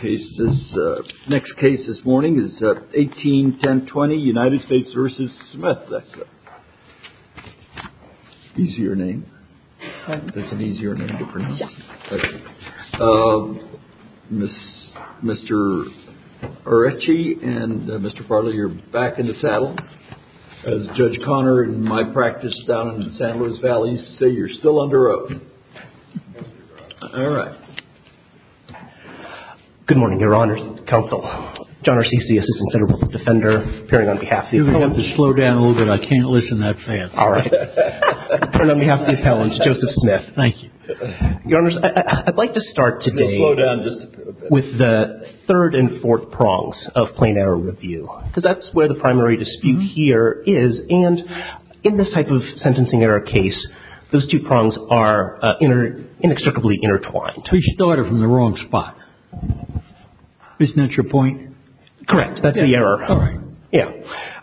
case. This next case this morning is 18 10 20 United States v. Smith. Easier name. That's an easier name to pronounce. Mr. Ritchie and Mr. Bartlett, you're back in the saddle. As Judge Connor in my practice down in the San Luis Valley say, you're still under oath. All right. Good morning, Your Honor's counsel. John RCC, Assistant Federal Defender, appearing on behalf of the appellants. You're going to have to slow down a little bit. I can't listen that fast. All right. Appearing on behalf of the appellants, Joseph Smith. Thank you. Your Honor, I'd like to start today with the third and fourth prongs of plain error review, because that's where the primary dispute here is. And in this type of sentencing error case, those two prongs are inextricably intertwined. We started from the wrong spot. Isn't that your point? Correct. That's the error. Yeah.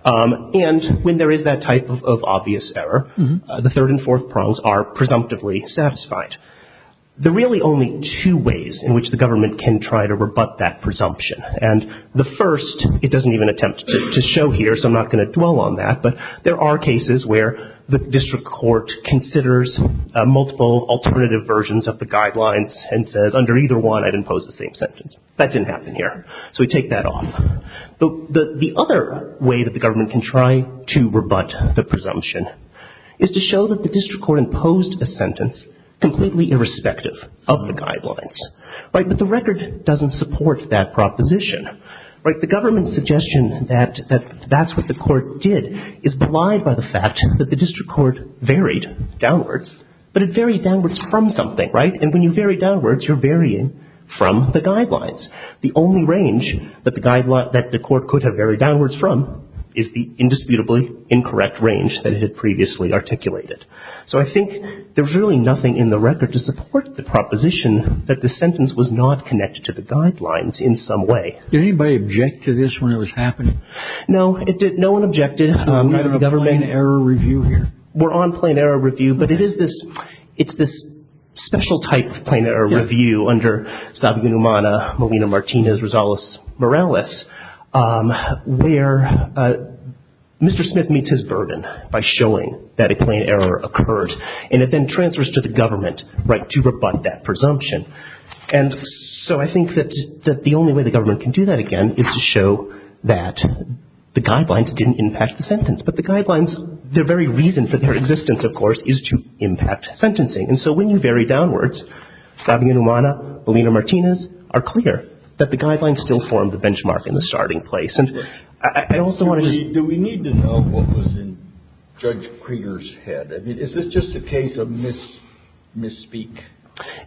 And when there is that type of obvious error, the third and fourth prongs are presumptively satisfied. There are really only two ways in which the government can try to rebut that presumption. And the first, it doesn't even attempt to show here, so I'm not going to dwell on that. But there are cases where the district court considers multiple alternative versions of the guidelines and says, under either one, I'd impose the same sentence. That didn't happen here. So we take that off. The other way that the government can try to rebut the presumption is to show that the district court imposed a sentence completely irrespective of the guidelines. But the record doesn't support that proposition. The government's suggestion that that's what the court did is belied by the fact that the district court varied downwards, but it varied downwards from something. And when you vary downwards, you're varying from the guidelines. The only range that the court could have varied downwards from is the indisputably incorrect range that it had previously articulated. So I think there's really nothing in the record to support the proposition that the sentence was not connected to the guidelines in some way. Did anybody object to this when it was happening? No, no one objected. We're on a plain error review here. Mr. Smith meets his burden by showing that a plain error occurred. And it then transfers to the government, right, to rebut that presumption. And so I think that the only way the government can do that again is to show that the guidelines didn't impact the sentence. But the guidelines, their very reason for their existence, of course, is to impact sentencing. And so when you vary downwards, Sabina Numana, Alina Martinez are clear that the guidelines still form the benchmark in the starting place. Do we need to know what was in Judge Krieger's head? I mean, is this just a case of misspeak?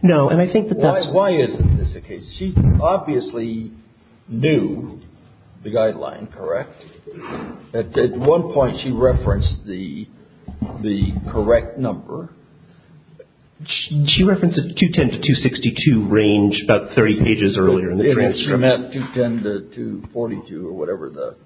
No, and I think that that's why. Why isn't this a case? She obviously knew the guideline, correct? At one point, she referenced the correct number. She referenced a 210 to 262 range about 30 pages earlier in the transcript. She never met 210 to 242 or whatever the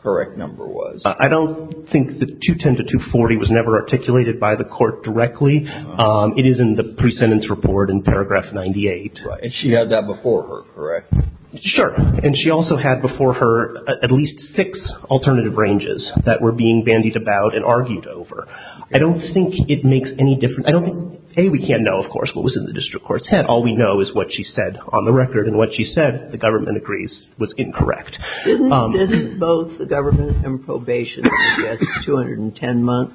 correct number was. I don't think that 210 to 240 was never articulated by the court directly. It is in the pre-sentence report in paragraph 98. And she had that before her, correct? Sure. And she also had before her at least six alternative ranges that were being bandied about and argued over. I don't think it makes any difference. I don't think, A, we can't know, of course, what was in the district court's head. All we know is what she said on the record. And what she said, the government agrees, was incorrect. Didn't both the government and probation suggest 210 months?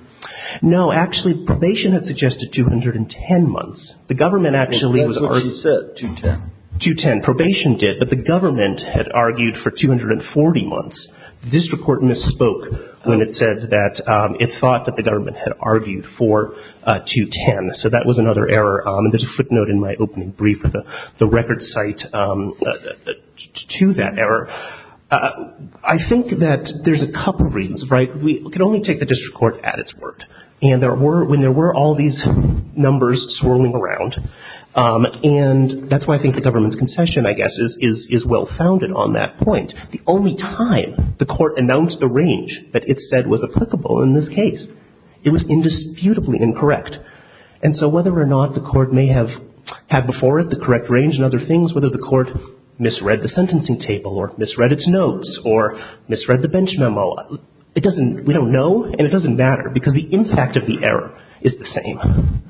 No. Actually, probation had suggested 210 months. And that's what she said, 210. 210. Probation did, but the government had argued for 240 months. The district court misspoke when it said that it thought that the government had argued for 210. So that was another error. And there's a footnote in my opening brief with the record cite to that error. I think that there's a couple reasons, right? We can only take the district court at its word. And there were, when there were all these numbers swirling around, and that's why I think the government's concession, I guess, is well-founded on that point. The only time the court announced the range that it said was applicable in this case, it was indisputably incorrect. And so whether or not the court may have had before it the correct range and other things, whether the court misread the sentencing table or misread its notes or misread the bench memo, we don't know and it doesn't matter because the impact of the error is the same.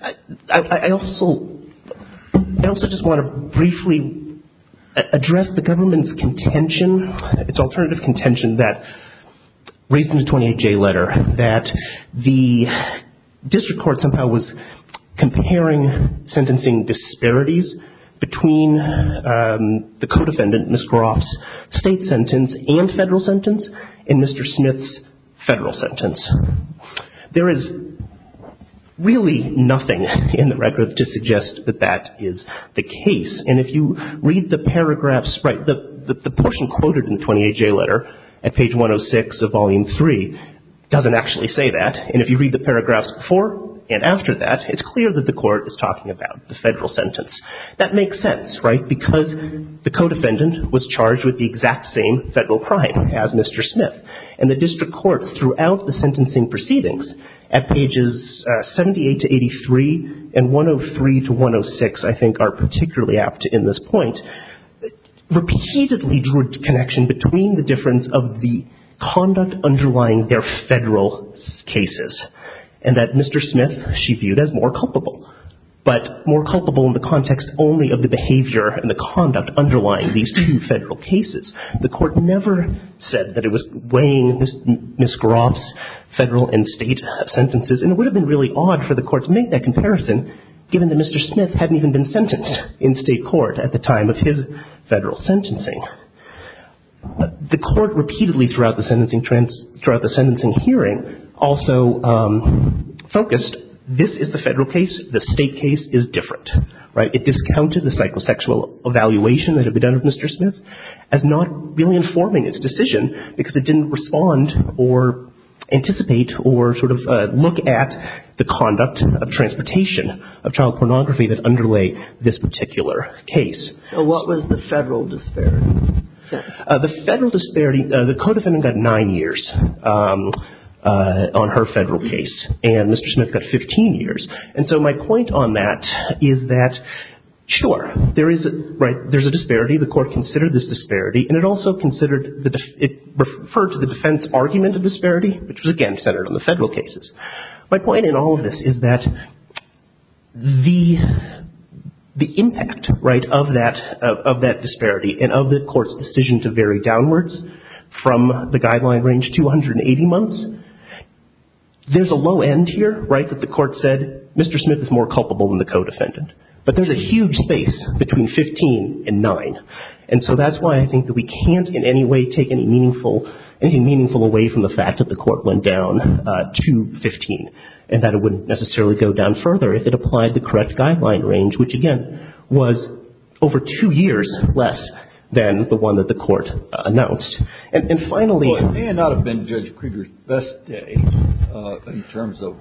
I also just want to briefly address the government's contention, its alternative contention, that raised in the 28J letter that the district court somehow was comparing sentencing disparities between the co-defendant, Ms. Groff's, state sentence and federal sentence and Mr. Smith's federal sentence. There is really nothing in the record to suggest that that is the case. And if you read the paragraphs, right, the portion quoted in the 28J letter at page 106 of Volume 3 doesn't actually say that. And if you read the paragraphs before and after that, it's clear that the court is talking about the federal sentence. That makes sense, right, because the co-defendant was charged with the exact same federal crime as Mr. Smith. And the district court throughout the sentencing proceedings at pages 78 to 83 and 103 to 106, I think are particularly apt in this point, repeatedly drew a connection between the difference of the conduct underlying their federal cases and that Mr. Smith she viewed as more culpable, but more culpable in the context only of the behavior and the conduct underlying these two federal cases. The court never said that it was weighing Ms. Groff's federal and state sentences and it would have been really odd for the court to make that comparison given that Mr. Smith hadn't even been sentenced in state court at the time of his federal sentencing. The court repeatedly throughout the sentencing hearing also focused, this is the federal case, the state case is different. It discounted the psychosexual evaluation that had been done of Mr. Smith as not really informing its decision because it didn't respond or anticipate or sort of look at the conduct of transportation, of child pornography that underlay this particular case. So what was the federal disparity? The federal disparity, the co-defendant got nine years on her federal case and Mr. Smith got 15 years. And so my point on that is that sure, there is a disparity, the court considered this disparity and it also considered, it referred to the defense argument of disparity, which was again centered on the federal cases. My point in all of this is that the impact of that disparity and of the court's decision to vary downwards from the guideline range to 180 months, there's a low end here, right? That the court said Mr. Smith is more culpable than the co-defendant. But there's a huge space between 15 and nine. And so that's why I think that we can't in any way take anything meaningful away from the fact that the court went down to 15 and that it wouldn't necessarily go down further if it applied the correct guideline range, which again was over two years less than the one that the court announced. And finally... It may not have been Judge Krieger's best day in terms of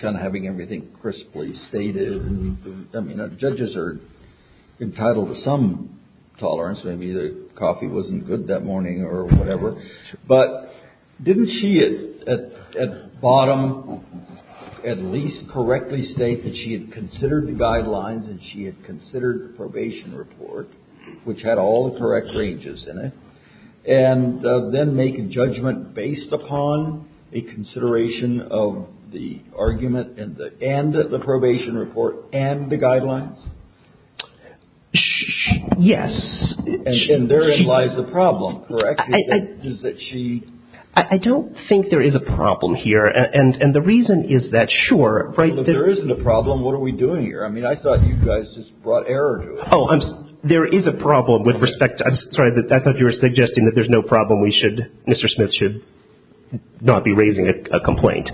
kind of having everything crisply stated. I mean, judges are entitled to some tolerance. Maybe the coffee wasn't good that morning or whatever. But didn't she at bottom at least correctly state that she had considered the guidelines and she had considered the probation report, which had all the correct ranges in it, and then make a judgment based upon a consideration of the argument and the probation report and the guidelines? Yes. And therein lies the problem, correct? I don't think there is a problem here. And the reason is that, sure... Well, if there isn't a problem, what are we doing here? I mean, I thought you guys just brought error to it. Oh, there is a problem with respect to... I'm sorry, I thought you were suggesting that there's no problem. Mr. Smith should not be raising a complaint.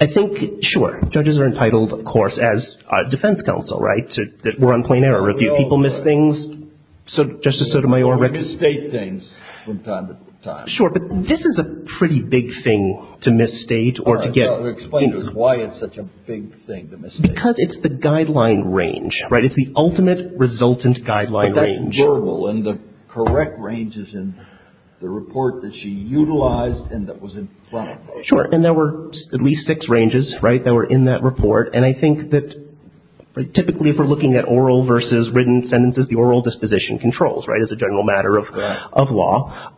I think, sure, judges are entitled, of course, as defense counsel, right, that we're on plain error. Do people miss things, Justice Sotomayor? We misstate things from time to time. Sure. But this is a pretty big thing to misstate or to get... Well, to explain to us why it's such a big thing to misstate. Because it's the guideline range, right? It's the ultimate resultant guideline range. But that's verbal. And the correct range is in the report that she utilized and that was in front of her. Sure. And there were at least six ranges, right, that were in that report. And I think that typically if we're looking at oral versus written sentences, the oral disposition controls, right, as a general matter of law.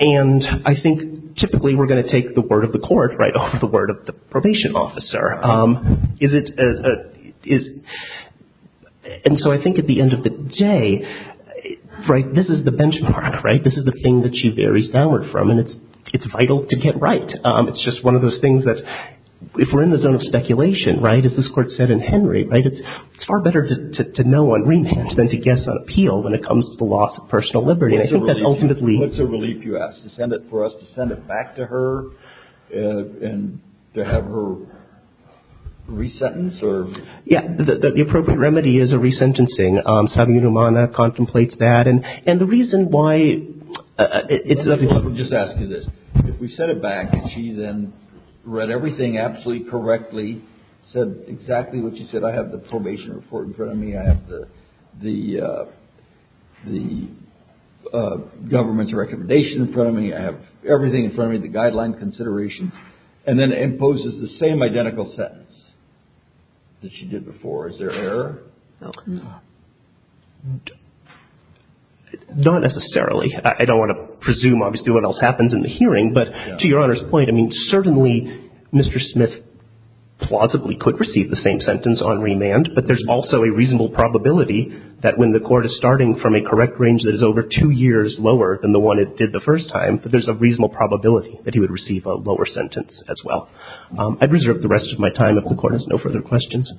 And I think typically we're going to take the word of the court over the word of the probation officer. And so I think at the end of the day, right, this is the benchmark, right? This is the thing that she varies downward from. And it's vital to get right. It's just one of those things that if we're in the zone of speculation, right, as this court said in Henry, right, it's far better to know on remand than to guess on appeal when it comes to the loss of personal liberty. And I think that ultimately... What's a relief you ask? To send it for us to send it back to her and to have her resentence or... Yeah. The appropriate remedy is a resentencing. Savvy Numana contemplates that. And the reason why... Let me just ask you this. If we sent it back and she then read everything absolutely correctly, said exactly what she said, I have the probation report in front of me, I have the government's recommendation in front of me, I have everything in front of me, the guideline considerations, and then imposes the same identical sentence that she did before, is there error? Not necessarily. I don't want to presume obviously what else happens in the hearing, but to Your Honor's point, I mean, certainly Mr. Smith plausibly could receive the same sentence on remand, but there's also a reasonable probability that when the court is starting from a correct range that is over two years lower than the one it did the first time, that there's a reasonable probability that he would receive a lower sentence as well. I'd reserve the rest of my time if the Court has no further questions.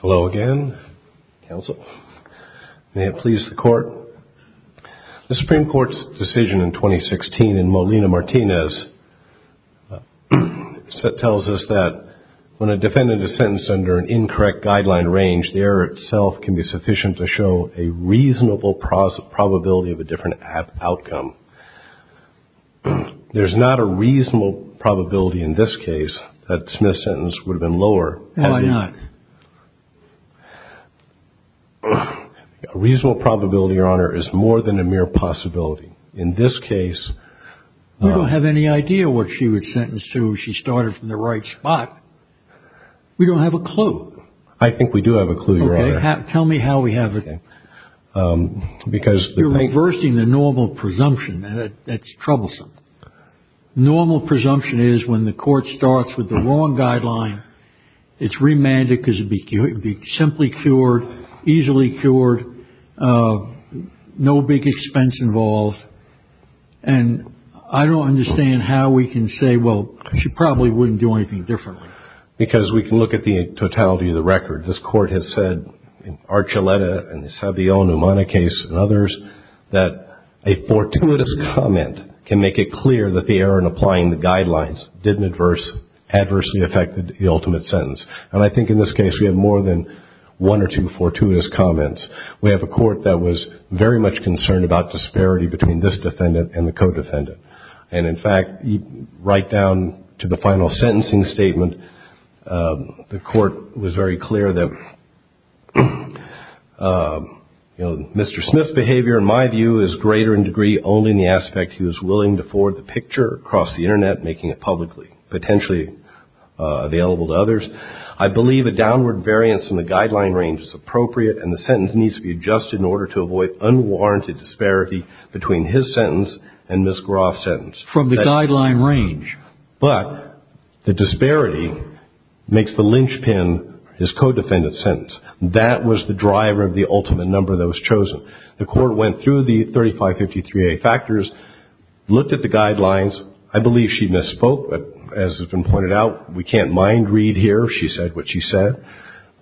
Hello again, counsel. May it please the Court. The Supreme Court's decision in 2016 in Molina-Martinez tells us that when a defendant is sentenced under an incorrect guideline range, the error itself can be sufficient to show a reasonable probability of a different outcome. There's not a reasonable probability in this case that Smith's sentence would have been lower. No, why not? A reasonable probability, Your Honor, is more than a mere possibility. In this case... We don't have any idea what she would sentence to if she started from the right spot. We don't have a clue. I think we do have a clue, Your Honor. Tell me how we have it. You're reversing the normal presumption. That's troublesome. Normal presumption is when the court starts with the wrong guideline, it's remanded because it would be simply cured, easily cured, no big expense involved. And I don't understand how we can say, well, she probably wouldn't do anything differently. Because we can look at the totality of the record. This Court has said in Archuleta and it's had the El Numana case and others that a fortuitous comment can make it clear that the error in applying the guidelines didn't adversely affect the ultimate sentence. And I think in this case we have more than one or two fortuitous comments. We have a Court that was very much concerned about disparity between this defendant and the co-defendant. And, in fact, right down to the final sentencing statement, the Court was very clear that Mr. Smith's behavior, in my view, is greater in degree only in the aspect he was willing to forward the picture across the Internet, making it publicly potentially available to others. I believe a downward variance in the guideline range is appropriate and the sentence needs to be adjusted in order to avoid unwarranted disparity between his sentence and Ms. Groff's sentence. From the guideline range. But the disparity makes the lynchpin his co-defendant's sentence. That was the driver of the ultimate number that was chosen. The Court went through the 3553A factors, looked at the guidelines. I believe she misspoke, but as has been pointed out, we can't mind-read here if she said what she said.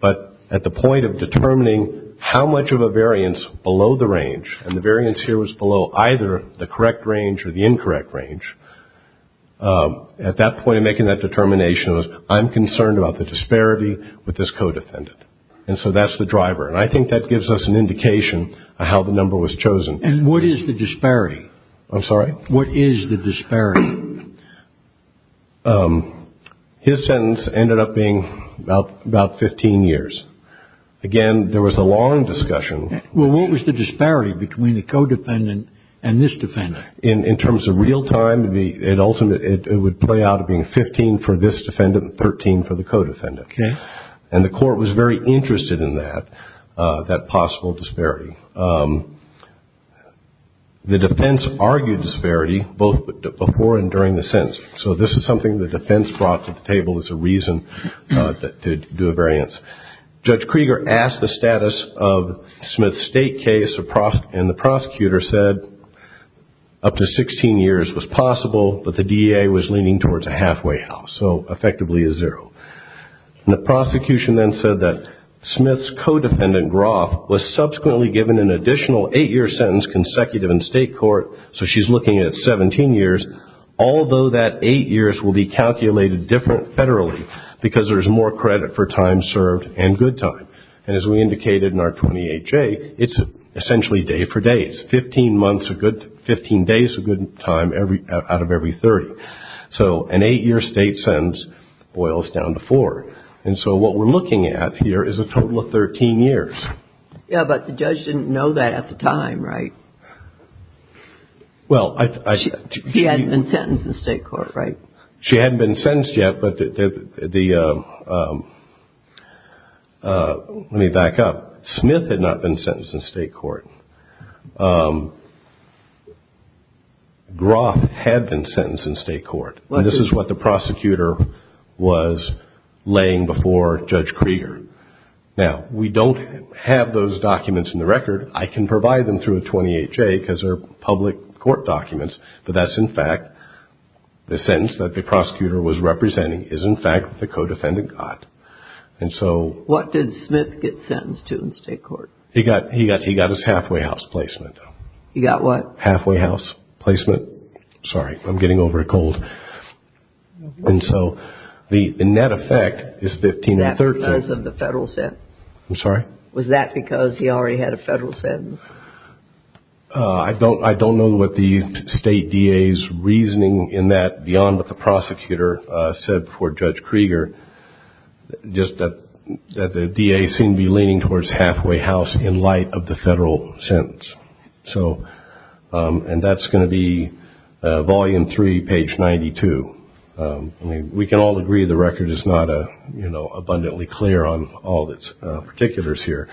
But at the point of determining how much of a variance below the range, and the variance here was below either the correct range or the incorrect range, at that point in making that determination was I'm concerned about the disparity with this co-defendant. And so that's the driver. And I think that gives us an indication of how the number was chosen. And what is the disparity? I'm sorry? What is the disparity? His sentence ended up being about 15 years. Again, there was a long discussion. Well, what was the disparity between the co-defendant and this defendant? In terms of real time, it would play out of being 15 for this defendant and 13 for the co-defendant. Okay. And the Court was very interested in that, that possible disparity. The defense argued disparity both before and during the sentence. So this is something the defense brought to the table as a reason to do a variance. Judge Krieger asked the status of Smith's state case, and the prosecutor said up to 16 years was possible, but the DEA was leaning towards a halfway house, so effectively a zero. And the prosecution then said that Smith's co-defendant, Groff, was subsequently given an additional eight-year sentence consecutive in state court, so she's looking at 17 years, although that eight years will be calculated differently federally because there's more credit for time served and good time. And as we indicated in our 28-J, it's essentially day for day. It's 15 days of good time out of every 30. So an eight-year state sentence boils down to four. And so what we're looking at here is a total of 13 years. Yeah, but the judge didn't know that at the time, right? He hadn't been sentenced in state court, right? She hadn't been sentenced yet, but the – let me back up. Smith had not been sentenced in state court. Groff had been sentenced in state court, and this is what the prosecutor was laying before Judge Krieger. Now, we don't have those documents in the record. I can provide them through a 28-J because they're public court documents, but that's, in fact, the sentence that the prosecutor was representing is, in fact, what the co-defendant got. What did Smith get sentenced to in state court? He got his halfway house placement. He got what? Halfway house placement. Sorry, I'm getting over a cold. And so the net effect is 15 and 13. Was that because of the federal sentence? I'm sorry? Was that because he already had a federal sentence? I don't know what the state DA's reasoning in that, beyond what the prosecutor said before Judge Krieger, just that the DA seemed to be leaning towards halfway house in light of the federal sentence. And that's going to be volume three, page 92. I mean, we can all agree the record is not abundantly clear on all of its particulars here,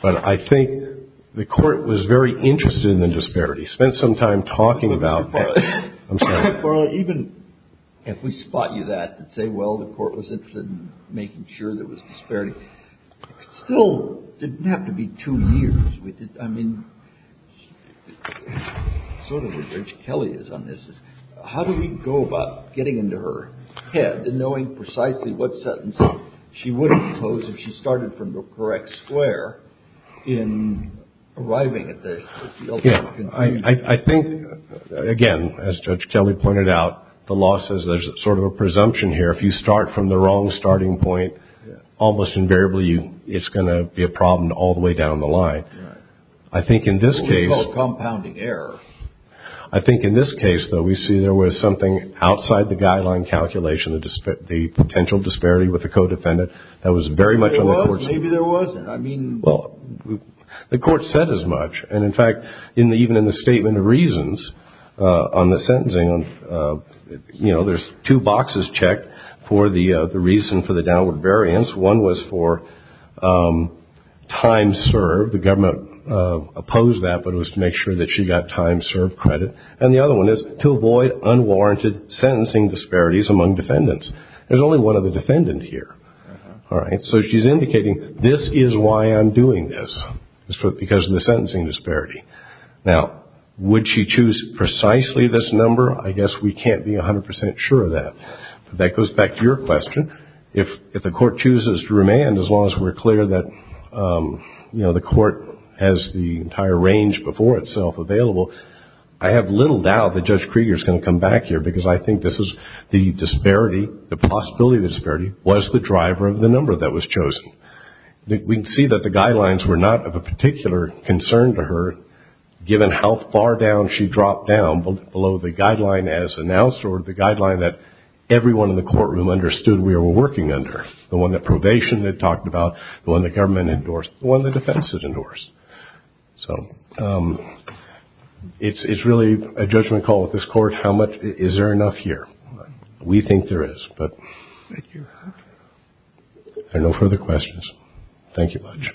but I think the court was very interested in the disparities, spent some time talking about them. I'm sorry. Even if we spot you that and say, well, the court was interested in making sure there was disparity, it still didn't have to be two years. I mean, sort of where Judge Kelly is on this is, how do we go about getting into her head and knowing precisely what sentence she would impose if she started from the correct square in arriving at the ultimate conclusion? I think, again, as Judge Kelly pointed out, the law says there's sort of a presumption here. If you start from the wrong starting point, almost invariably, it's going to be a problem all the way down the line. Right. I think in this case... We call it compounding error. I think in this case, though, we see there was something outside the guideline calculation, the potential disparity with the co-defendant that was very much on the court's... Maybe there wasn't. I mean... The court said as much. And, in fact, even in the statement of reasons on the sentencing, there's two boxes checked for the reason for the downward variance. One was for time served. The government opposed that, but it was to make sure that she got time served credit. And the other one is to avoid unwarranted sentencing disparities among defendants. There's only one other defendant here. All right. So she's indicating this is why I'm doing this, because of the sentencing disparity. Now, would she choose precisely this number? I guess we can't be 100% sure of that. But that goes back to your question. If the court chooses to remand, as long as we're clear that, you know, the court has the entire range before itself available, I have little doubt that Judge Krieger is going to come back here, because I think this is the disparity, the possibility of the disparity, was the driver of the number that was chosen. We can see that the guidelines were not of a particular concern to her, given how far down she dropped down below the guideline as announced or the guideline that everyone in the courtroom understood we were working under, the one that probation had talked about, the one the government endorsed, the one the defense had endorsed. So it's really a judgment call with this court. Is there enough here? We think there is, but there are no further questions. Thank you much.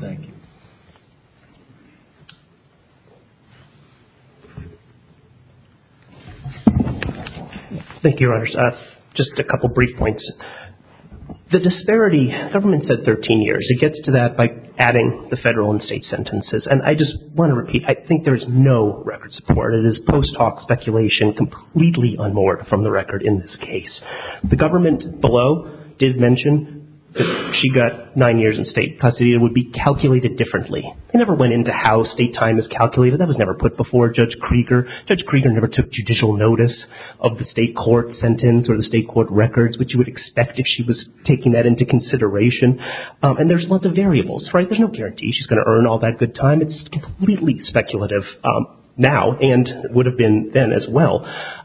Thank you. Thank you, Your Honors. Just a couple brief points. The disparity, government said 13 years. It gets to that by adding the federal and state sentences. And I just want to repeat, I think there is no record support. It is post hoc speculation completely unmoored from the record in this case. The government below did mention she got nine years in state custody. It would be calculated differently. They never went into how state time is calculated. That was never put before Judge Krieger. Judge Krieger never took judicial notice of the state court sentence or the state court records, which you would expect if she was taking that into consideration. And there's lots of variables, right? There's no guarantee she's going to earn all that good time. It's completely speculative now and would have been then as well.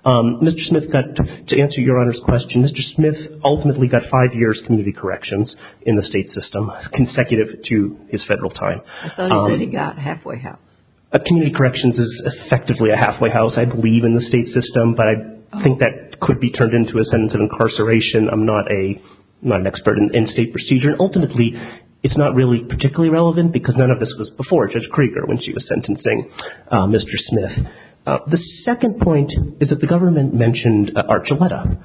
Mr. Smith got, to answer Your Honor's question, Mr. Smith ultimately got five years community corrections in the state system, consecutive to his federal time. I thought he said he got halfway house. Community corrections is effectively a halfway house, I believe, in the state system. But I think that could be turned into a sentence of incarceration. I'm not an expert in state procedure. Ultimately, it's not really particularly relevant because none of this was before Judge Krieger when she was sentencing Mr. Smith. The second point is that the government mentioned Archuleta.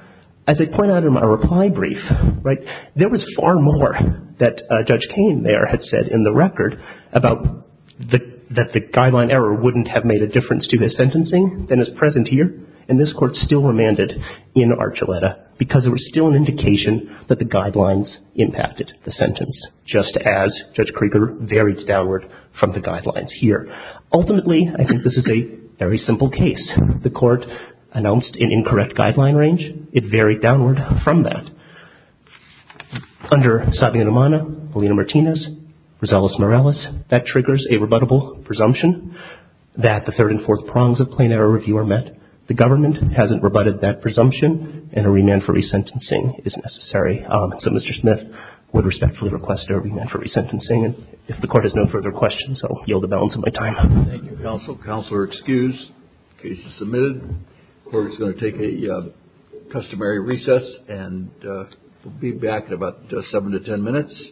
As I point out in my reply brief, right, there was far more that Judge Kane there had said in the record about that the guideline error wouldn't have made a difference to his sentencing than is present here. And this Court still remanded in Archuleta because it was still an indication that the guidelines impacted the sentence, just as Judge Krieger varied downward from the guidelines here. Ultimately, I think this is a very simple case. The Court announced an incorrect guideline range. It varied downward from that. Under Savino-Nemana, Polina-Martinez, Rosales-Morales, that triggers a rebuttable presumption that the third and fourth prongs of plain error review are met. The government hasn't rebutted that presumption, and a remand for resentencing is necessary. So Mr. Smith would respectfully request a remand for resentencing. And if the Court has no further questions, I'll yield the balance of my time. Thank you, counsel. Counselor excused. Case is submitted. Court is going to take a customary recess and we'll be back in about seven to ten minutes.